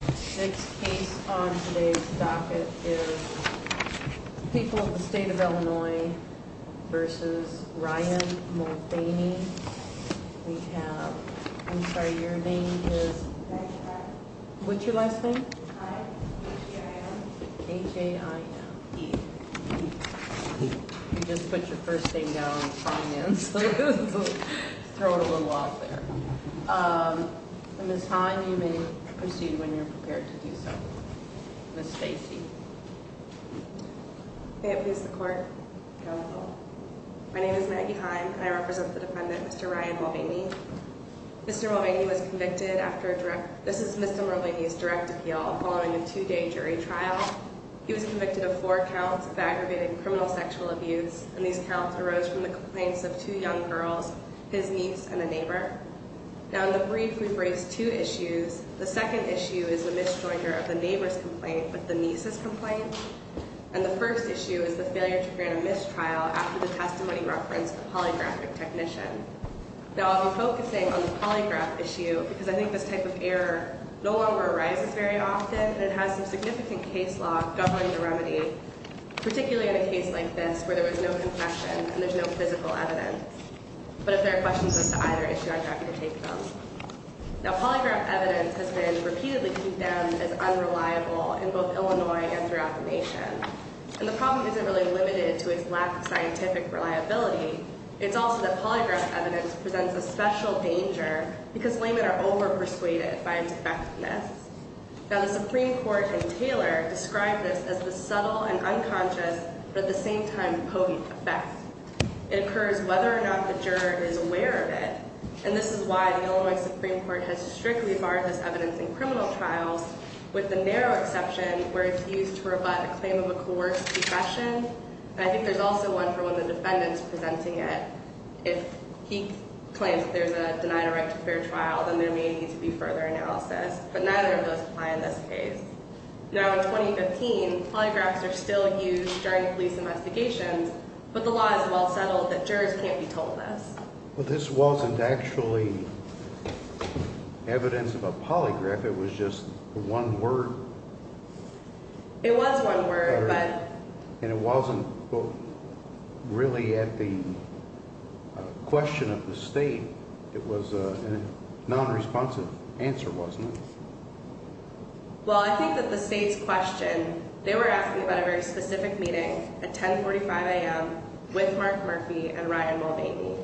This case on today's docket is the people of the state of Illinois v. Ryan Mulvaney. We have, I'm sorry, your name is? What's your last name? I, H-A-I-N. H-A-I-N, E. You just put your first name down on the finance list. Throw it a little out there. Ms. Heim, you may proceed when you're prepared to do so. Ms. Stacey. May it please the court. Counsel. My name is Maggie Heim, and I represent the defendant, Mr. Ryan Mulvaney. Mr. Mulvaney was convicted after a direct, this is Mr. Mulvaney's direct appeal following a two-day jury trial. He was convicted of four counts of aggravated criminal sexual abuse, and these counts arose from the complaints of two young girls, his niece and a neighbor. Now, in the brief, we've raised two issues. The second issue is the misjoinder of the neighbor's complaint with the niece's complaint, and the first issue is the failure to grant a missed trial after the testimony referenced a polygraphic technician. Now, I'll be focusing on the polygraph issue because I think this type of error no longer arises very often, and it has some significant case law governing the remedy, particularly in a case like this where there was no confession and there's no physical evidence. But if there are questions as to either issue, I'm happy to take them. Now, polygraph evidence has been repeatedly condemned as unreliable in both Illinois and throughout the nation, and the problem isn't really limited to its lack of scientific reliability. It's also that polygraph evidence presents a special danger because laymen are overpersuaded by its effectiveness. Now, the Supreme Court in Taylor described this as the subtle and unconscious but at the same time potent effect. It occurs whether or not the juror is aware of it, and this is why the Illinois Supreme Court has strictly barred this evidence in criminal trials with the narrow exception where it's used to rebut a claim of a coerced confession, and I think there's also one for when the defendant's presenting it. If he claims that there's a denied a right to a fair trial, then there may need to be further analysis, but neither of those apply in this case. Now, in 2015, polygraphs are still used during police investigations, but the law is well settled that jurors can't be told this. Well, this wasn't actually evidence of a polygraph. It was just one word. It was one word, but... And it wasn't really at the question of the state. It was a nonresponsive answer, wasn't it? Well, I think that the state's question, they were asking about a very specific meeting at 1045 a.m. with Mark Murphy and Ryan Mulvaney,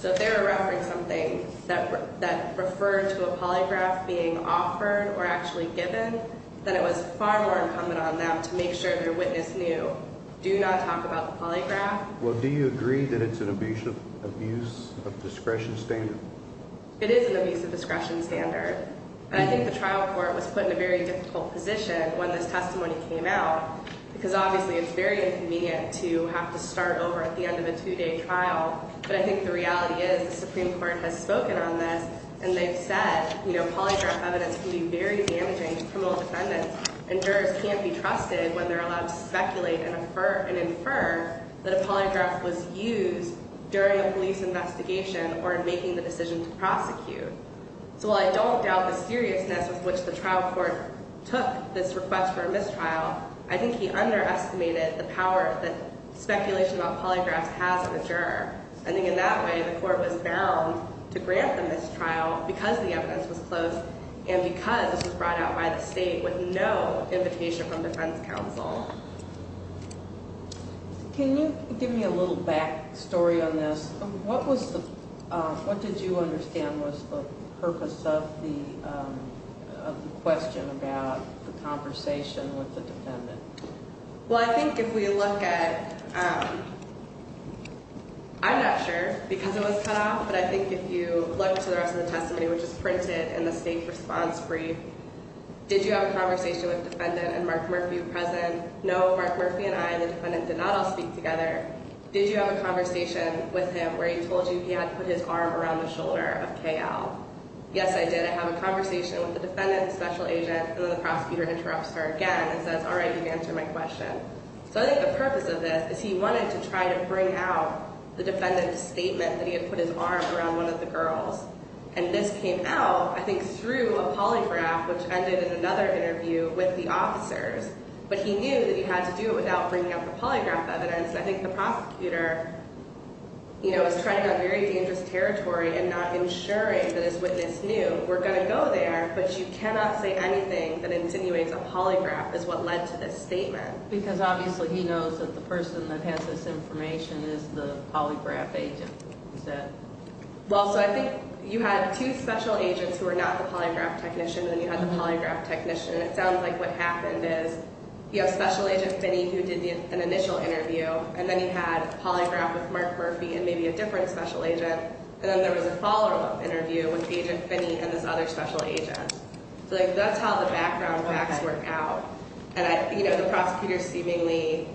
so if they were referring to something that referred to a polygraph being offered or actually given, then it was far more incumbent on them to make sure their witness knew, do not talk about the polygraph. Well, do you agree that it's an abuse of discretion standard? It is an abuse of discretion standard, and I think the trial court was put in a very difficult position when this testimony came out because obviously it's very inconvenient to have to start over at the end of a two-day trial, but I think the reality is the Supreme Court has spoken on this, and they've said polygraph evidence can be very damaging to criminal defendants, and jurors can't be trusted when they're allowed to speculate and infer that a polygraph was used during a police investigation or in making the decision to prosecute. So while I don't doubt the seriousness with which the trial court took this request for a mistrial, I think he underestimated the power that speculation about polygraphs has in a juror. I think in that way the court was bound to grant the mistrial because the evidence was close and because it was brought out by the state with no invitation from defense counsel. Can you give me a little back story on this? What did you understand was the purpose of the question about the conversation with the defendant? Well, I think if we look at—I'm not sure because it was cut off, but I think if you look to the rest of the testimony, which is printed in the state response brief, did you have a conversation with the defendant and Mark Murphy were present? No, Mark Murphy and I, the defendant, did not all speak together. Did you have a conversation with him where he told you he had to put his arm around the shoulder of KL? Yes, I did. I have a conversation with the defendant, the special agent, and then the prosecutor interrupts her again and says, all right, you've answered my question. So I think the purpose of this is he wanted to try to bring out the defendant's statement that he had put his arm around one of the girls, and this came out, I think, through a polygraph, which ended in another interview with the officers, but he knew that he had to do it without bringing up the polygraph evidence, and I think the prosecutor, you know, is trying on very dangerous territory and not ensuring that his witness knew we're going to go there, but you cannot say anything that insinuates a polygraph is what led to this statement. Because obviously he knows that the person that has this information is the polygraph agent. Well, so I think you had two special agents who were not the polygraph technician, and then you had the polygraph technician, and it sounds like what happened is you have special agent Finney who did an initial interview, and then you had a polygraph with Mark Murphy and maybe a different special agent, and then there was a follow-up interview with agent Finney and this other special agent. So, like, that's how the background facts work out. And, you know, the prosecutor seemingly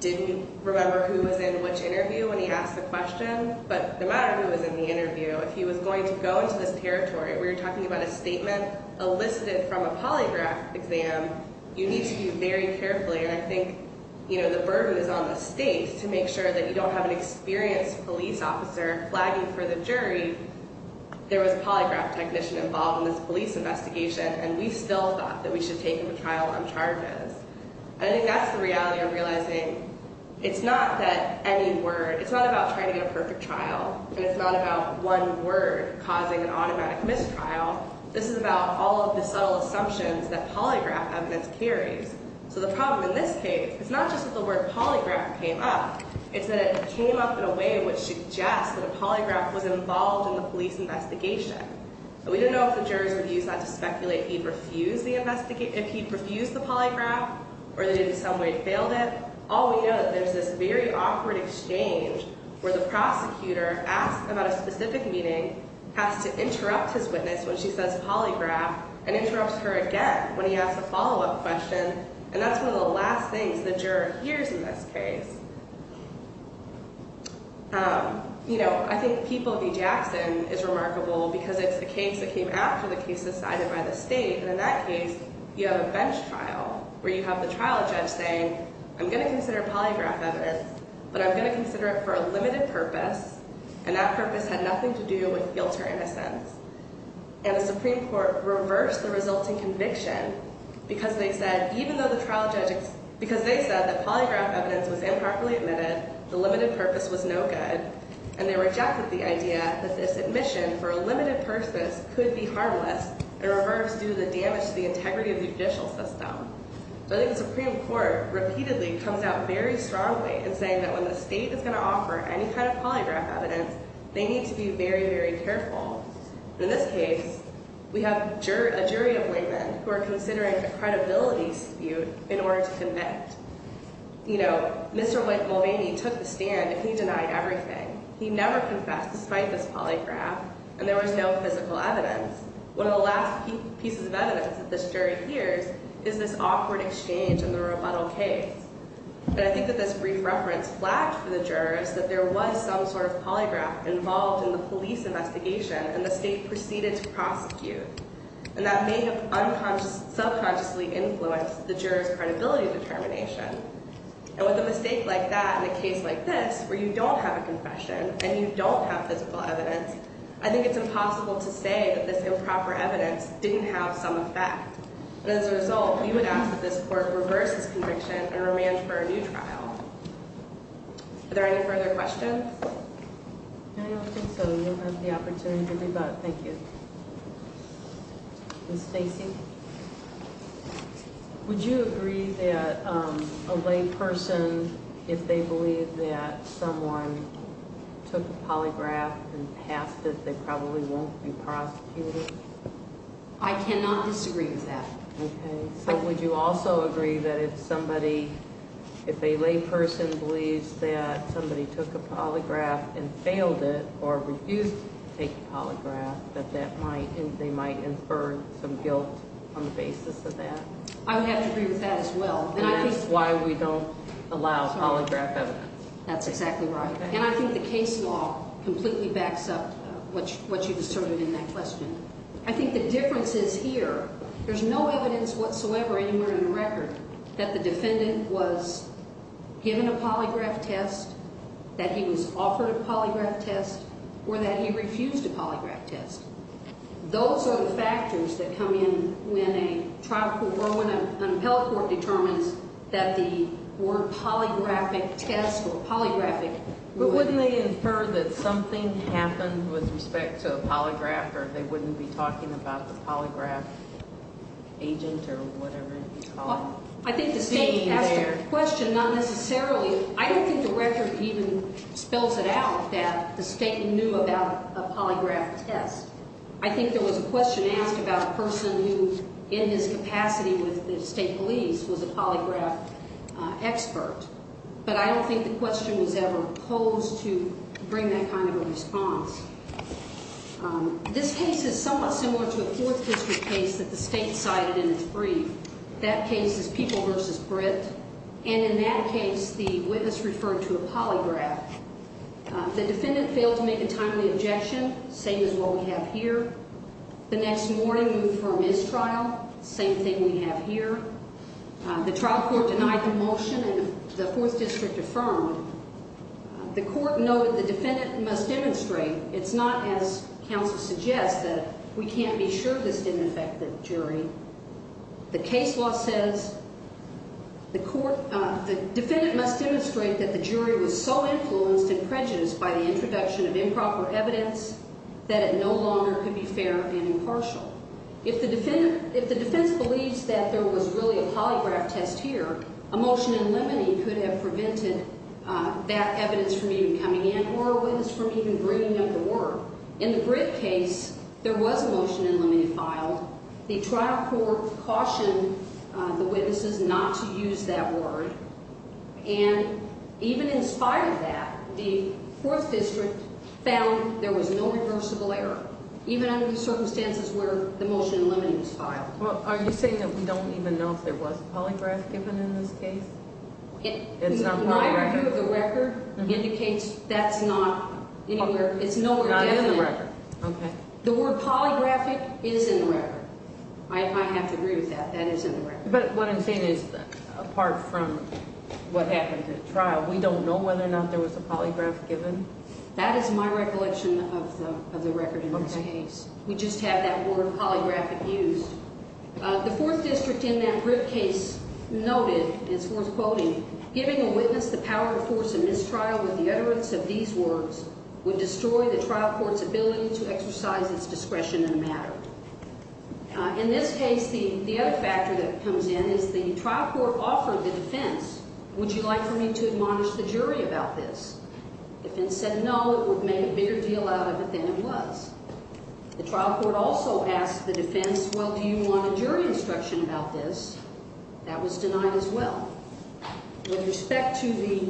didn't remember who was in which interview when he asked the question, but no matter who was in the interview, if he was going to go into this territory where you're talking about a statement elicited from a polygraph exam, you need to be very careful, and I think, you know, the burden is on the state to make sure that you don't have an experienced police officer flagging for the jury, there was a polygraph technician involved in this police investigation, and we still thought that we should take him to trial on charges. And I think that's the reality of realizing it's not that any word, it's not about trying to get a perfect trial, and it's not about one word causing an automatic mistrial. This is about all of the subtle assumptions that polygraph evidence carries. So the problem in this case, it's not just that the word polygraph came up, it's that it came up in a way which suggests that a polygraph was involved in the police investigation. But we didn't know if the jurors would use that to speculate if he'd refused the polygraph, or they did in some way failed it. All we know is that there's this very awkward exchange where the prosecutor asks about a specific meeting, has to interrupt his witness when she says polygraph, and interrupts her again when he asks a follow-up question, and that's one of the last things the juror hears in this case. You know, I think the People v. Jackson is remarkable because it's a case that came after the case decided by the state, and in that case, you have a bench trial where you have the trial judge saying, I'm going to consider polygraph evidence, but I'm going to consider it for a limited purpose, and that purpose had nothing to do with guilt or innocence. And the Supreme Court reversed the resulting conviction because they said even though the trial judge, because they said that polygraph evidence was improperly admitted, the limited purpose was no good, and they rejected the idea that this admission for a limited purpose could be harmless and reversed due to the damage to the integrity of the judicial system. I think the Supreme Court repeatedly comes out very strongly in saying that when the state is going to offer any kind of polygraph evidence, they need to be very, very careful. In this case, we have a jury of women who are considering a credibility dispute in order to commit. You know, Mr. Mulvaney took the stand and he denied everything. He never confessed despite this polygraph, and there was no physical evidence. One of the last pieces of evidence that this jury hears is this awkward exchange in the rebuttal case. And I think that this brief reference lacked for the jurors that there was some sort of polygraph involved in the police investigation and the state proceeded to prosecute, and that may have subconsciously influenced the jurors' credibility determination. And with a mistake like that in a case like this where you don't have a confession and you don't have physical evidence, I think it's impossible to say that this improper evidence didn't have some effect. And as a result, we would ask that this court reverse this conviction and arrange for a new trial. Are there any further questions? No, I don't think so. You have the opportunity to do that. Thank you. Ms. Stacy, would you agree that a lay person, if they believe that someone took a polygraph and passed it, they probably won't be prosecuted? I cannot disagree with that. Okay. So would you also agree that if somebody, if a lay person believes that somebody took a polygraph and failed it or refused to take a polygraph, that they might infer some guilt on the basis of that? I would have to agree with that as well. And that's why we don't allow polygraph evidence. That's exactly right. And I think the case law completely backs up what you've asserted in that question. I think the difference is here, there's no evidence whatsoever anywhere in the record that the defendant was given a polygraph test, that he was offered a polygraph test, or that he refused a polygraph test. Those are the factors that come in when a trial court, when an appellate court determines that the word polygraphic test or polygraphic would – But wouldn't they infer that something happened with respect to a polygraph, or they wouldn't be talking about the polygraph agent or whatever it's called? I think the statement asked a question, not necessarily – I don't think the record even spells it out that the statement knew about a polygraph test. I think there was a question asked about a person who, in his capacity with the state police, was a polygraph expert. But I don't think the question was ever posed to bring that kind of a response. This case is somewhat similar to a Fourth District case that the state cited in its brief. That case is People v. Britt. And in that case, the witness referred to a polygraph. The defendant failed to make a timely objection, same as what we have here. The next morning, we move for a mistrial, same thing we have here. The trial court denied the motion, and the Fourth District affirmed. The court noted the defendant must demonstrate. It's not, as counsel suggests, that we can't be sure this didn't affect the jury. The case law says the defendant must demonstrate that the jury was so influenced and prejudiced by the introduction of improper evidence that it no longer could be fair and impartial. If the defense believes that there was really a polygraph test here, a motion in limine could have prevented that evidence from even coming in or a witness from even bringing them to work. In the Britt case, there was a motion in limine filed. The trial court cautioned the witnesses not to use that word. And even in spite of that, the Fourth District found there was no reversible error, even under the circumstances where the motion in limine was filed. Are you saying that we don't even know if there was a polygraph given in this case? My review of the record indicates that's not anywhere. Not in the record. Okay. The word polygraphic is in the record. I have to agree with that. That is in the record. But what I'm saying is, apart from what happened at trial, we don't know whether or not there was a polygraph given? That is my recollection of the record in this case. We just have that word polygraphic used. The Fourth District in that Britt case noted, it's worth quoting, giving a witness the power to force a mistrial with the utterance of these words would destroy the trial court's ability to exercise its discretion in a matter. In this case, the other factor that comes in is the trial court offered the defense, would you like for me to admonish the jury about this? The defense said no, it would make a bigger deal out of it than it was. The trial court also asked the defense, well, do you want a jury instruction about this? That was denied as well. With respect to the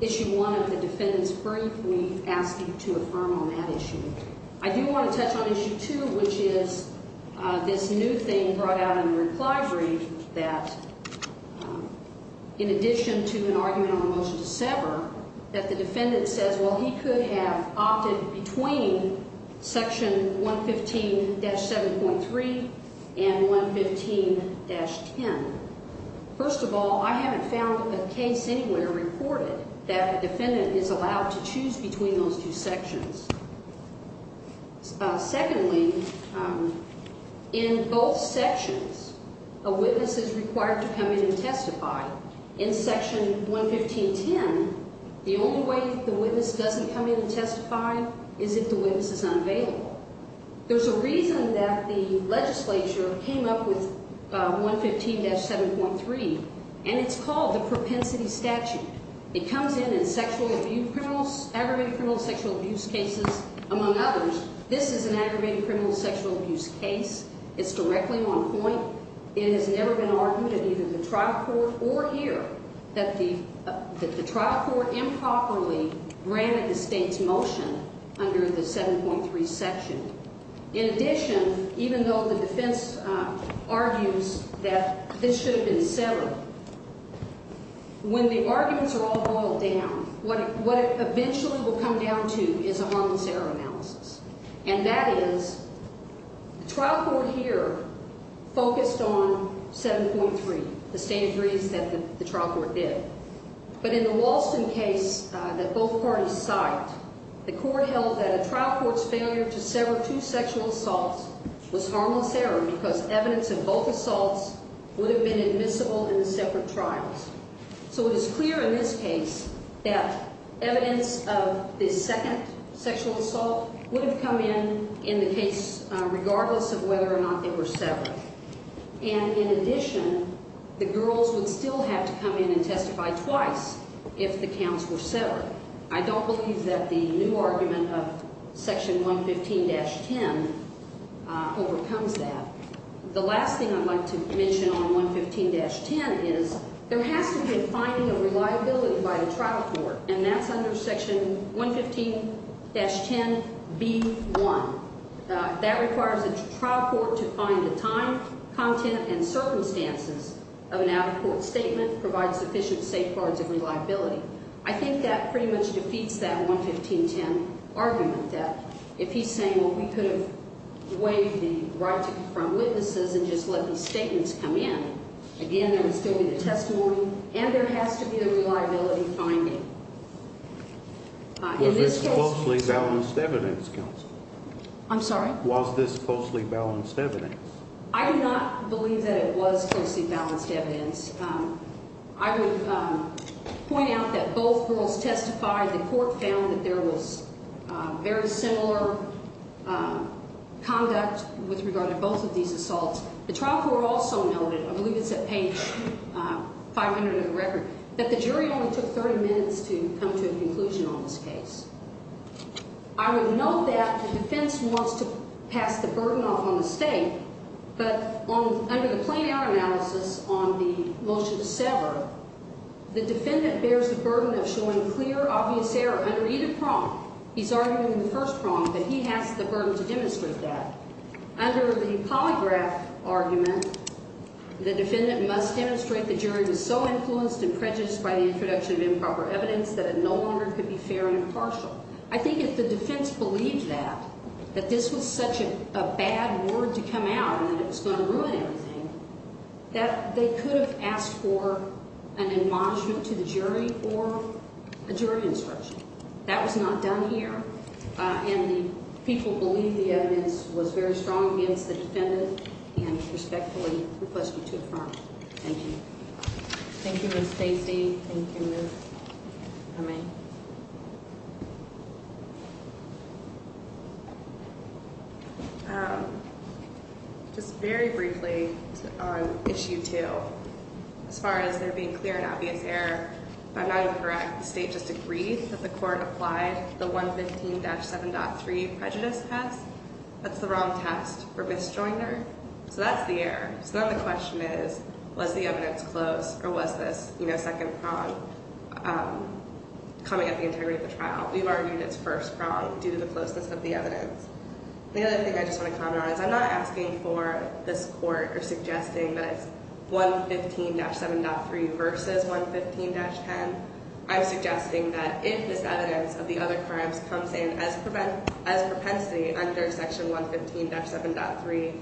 Issue 1 of the defendant's brief, we ask you to affirm on that issue. I do want to touch on Issue 2, which is this new thing brought out in the reply brief that, in addition to an argument on a motion to sever, that the defendant says, well, he could have opted between Section 115-7.3 and 115-10. First of all, I haven't found a case anywhere reported that a defendant is allowed to choose between those two sections. Secondly, in both sections, a witness is required to come in and testify. In Section 115-10, the only way the witness doesn't come in and testify is if the witness is unavailable. There's a reason that the legislature came up with 115-7.3, and it's called the Propensity Statute. It comes in as aggravated criminal sexual abuse cases, among others. This is an aggravated criminal sexual abuse case. It's directly on point. It has never been argued in either the trial court or here that the trial court improperly granted the state's motion under the 7.3 section. In addition, even though the defense argues that this should have been severed, when the arguments are all boiled down, what it eventually will come down to is a harmless error analysis. And that is, the trial court here focused on 7.3, the state agrees that the trial court did. But in the Walston case that both parties cite, the court held that a trial court's failure to sever two sexual assaults was harmless error because evidence in both assaults would have been admissible in the separate trials. So it is clear in this case that evidence of the second sexual assault would have come in in the case regardless of whether or not they were severed. And in addition, the girls would still have to come in and testify twice if the counts were severed. I don't believe that the new argument of Section 115-10 overcomes that. The last thing I'd like to mention on 115-10 is there has to be a finding of reliability by the trial court, and that's under Section 115-10B1. That requires a trial court to find the time, content, and circumstances of an out-of-court statement, provide sufficient safeguards of reliability. I think that pretty much defeats that 115-10 argument that if he's saying, well, we could have waived the right to confront witnesses and just let these statements come in, again, there would still be the testimony, and there has to be a reliability finding. In this case – Was this closely balanced evidence, counsel? I'm sorry? Was this closely balanced evidence? I do not believe that it was closely balanced evidence. I would point out that both girls testified. The court found that there was very similar conduct with regard to both of these assaults. The trial court also noted – I believe it's at page 500 of the record – that the jury only took 30 minutes to come to a conclusion on this case. I would note that the defense wants to pass the burden off on the state, but under the plain error analysis on the motion to sever, the defendant bears the burden of showing clear, obvious error under either prong. He's arguing the first prong, but he has the burden to demonstrate that. Under the polygraph argument, the defendant must demonstrate the jury was so influenced and prejudiced by the introduction of improper evidence that it no longer could be fair and impartial. I think if the defense believed that, that this was such a bad word to come out and that it was going to ruin everything, that they could have asked for an admonishment to the jury or a jury instruction. That was not done here, and the people believed the evidence was very strong against the defendant and respectfully request you to affirm. Thank you. Thank you, Ms. Stacy. Thank you, Ms. O'Meara. Just very briefly on Issue 2, as far as there being clear and obvious error, if I'm not incorrect, the state just agreed that the court applied the 115-7.3 prejudice test. That's the wrong test for misjoiner, so that's the error. So then the question is, was the evidence close or was this second prong coming at the integrity of the trial? We've argued it's first prong due to the closeness of the evidence. The other thing I just want to comment on is I'm not asking for this court or suggesting that it's 115-7.3 versus 115-10. I'm suggesting that if this evidence of the other crimes comes in as propensity under Section 115-7.3,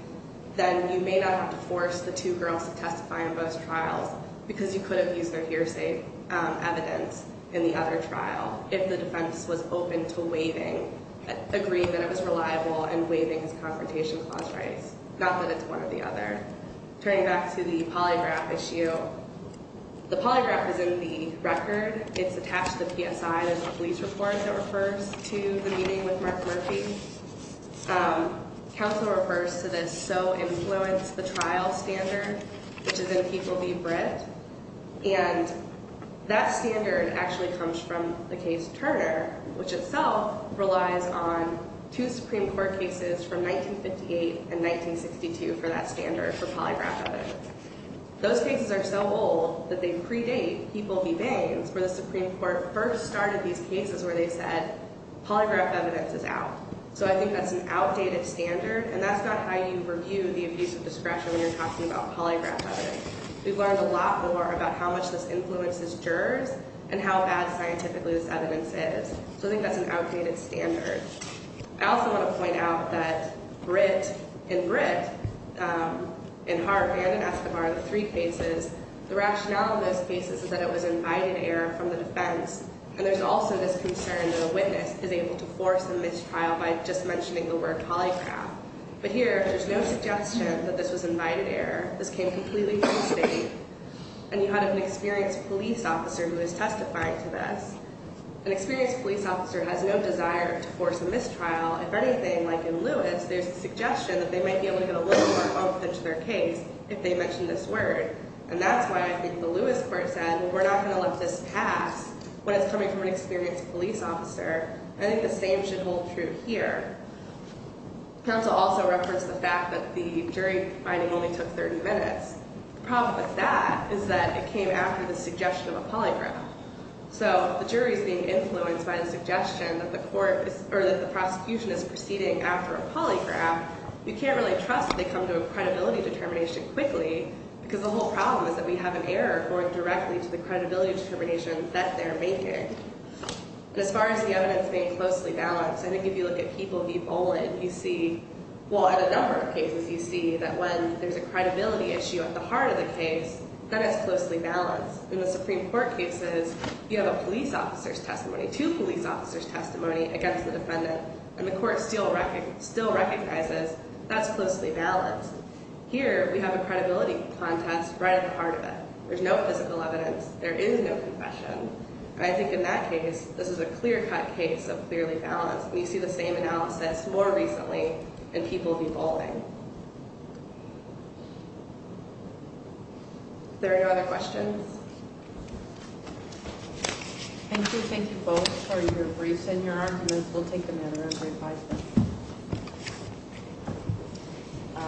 then you may not have to force the two girls to testify in both trials, because you could have used their hearsay evidence in the other trial if the defense was open to agreeing that it was reliable and waiving its confrontation clause rights, not that it's one or the other. Turning back to the polygraph issue, the polygraph is in the record. It's attached to the PSI. There's a police report that refers to the meeting with Mark Murphy. Counsel refers to this So Influence the Trial standard, which is in People v. Britt. And that standard actually comes from the case Turner, which itself relies on two Supreme Court cases from 1958 and 1962 for that standard for polygraph evidence. Those cases are so old that they predate People v. Baines, where the Supreme Court first started these cases where they said polygraph evidence is out. So I think that's an outdated standard, and that's not how you review the abuse of discretion when you're talking about polygraph evidence. We've learned a lot more about how much this influences jurors and how bad scientifically this evidence is. So I think that's an outdated standard. I also want to point out that Britt and Hartman and Escobar, the three cases, the rationale in those cases is that it was invited error from the defense. And there's also this concern that a witness is able to force a mistrial by just mentioning the word polygraph. But here, there's no suggestion that this was invited error. This came completely from the state. And you had an experienced police officer who was testifying to this. An experienced police officer has no desire to force a mistrial. If anything, like in Lewis, there's a suggestion that they might be able to get a little more bump into their case if they mention this word. And that's why I think the Lewis court said, well, we're not going to let this pass when it's coming from an experienced police officer. I think the same should hold true here. Counsel also referenced the fact that the jury finding only took 30 minutes. The problem with that is that it came after the suggestion of a polygraph. So the jury is being influenced by the suggestion that the prosecution is proceeding after a polygraph. You can't really trust they come to a credibility determination quickly because the whole problem is that we have an error going directly to the credibility determination that they're making. As far as the evidence being closely balanced, I think if you look at people v. Boland, you see, well, at a number of cases, you see that when there's a credibility issue at the heart of the case, that is closely balanced. In the Supreme Court cases, you have a police officer's testimony, two police officers' testimony against the defendant. And the court still recognizes that's closely balanced. Here, we have a credibility contest right at the heart of it. There's no physical evidence. There is no confession. And I think in that case, this is a clear-cut case of clearly balanced. We see the same analysis more recently in people v. Boland. Are there any other questions? Thank you. Thank you both for your briefs and your arguments. We'll take them in.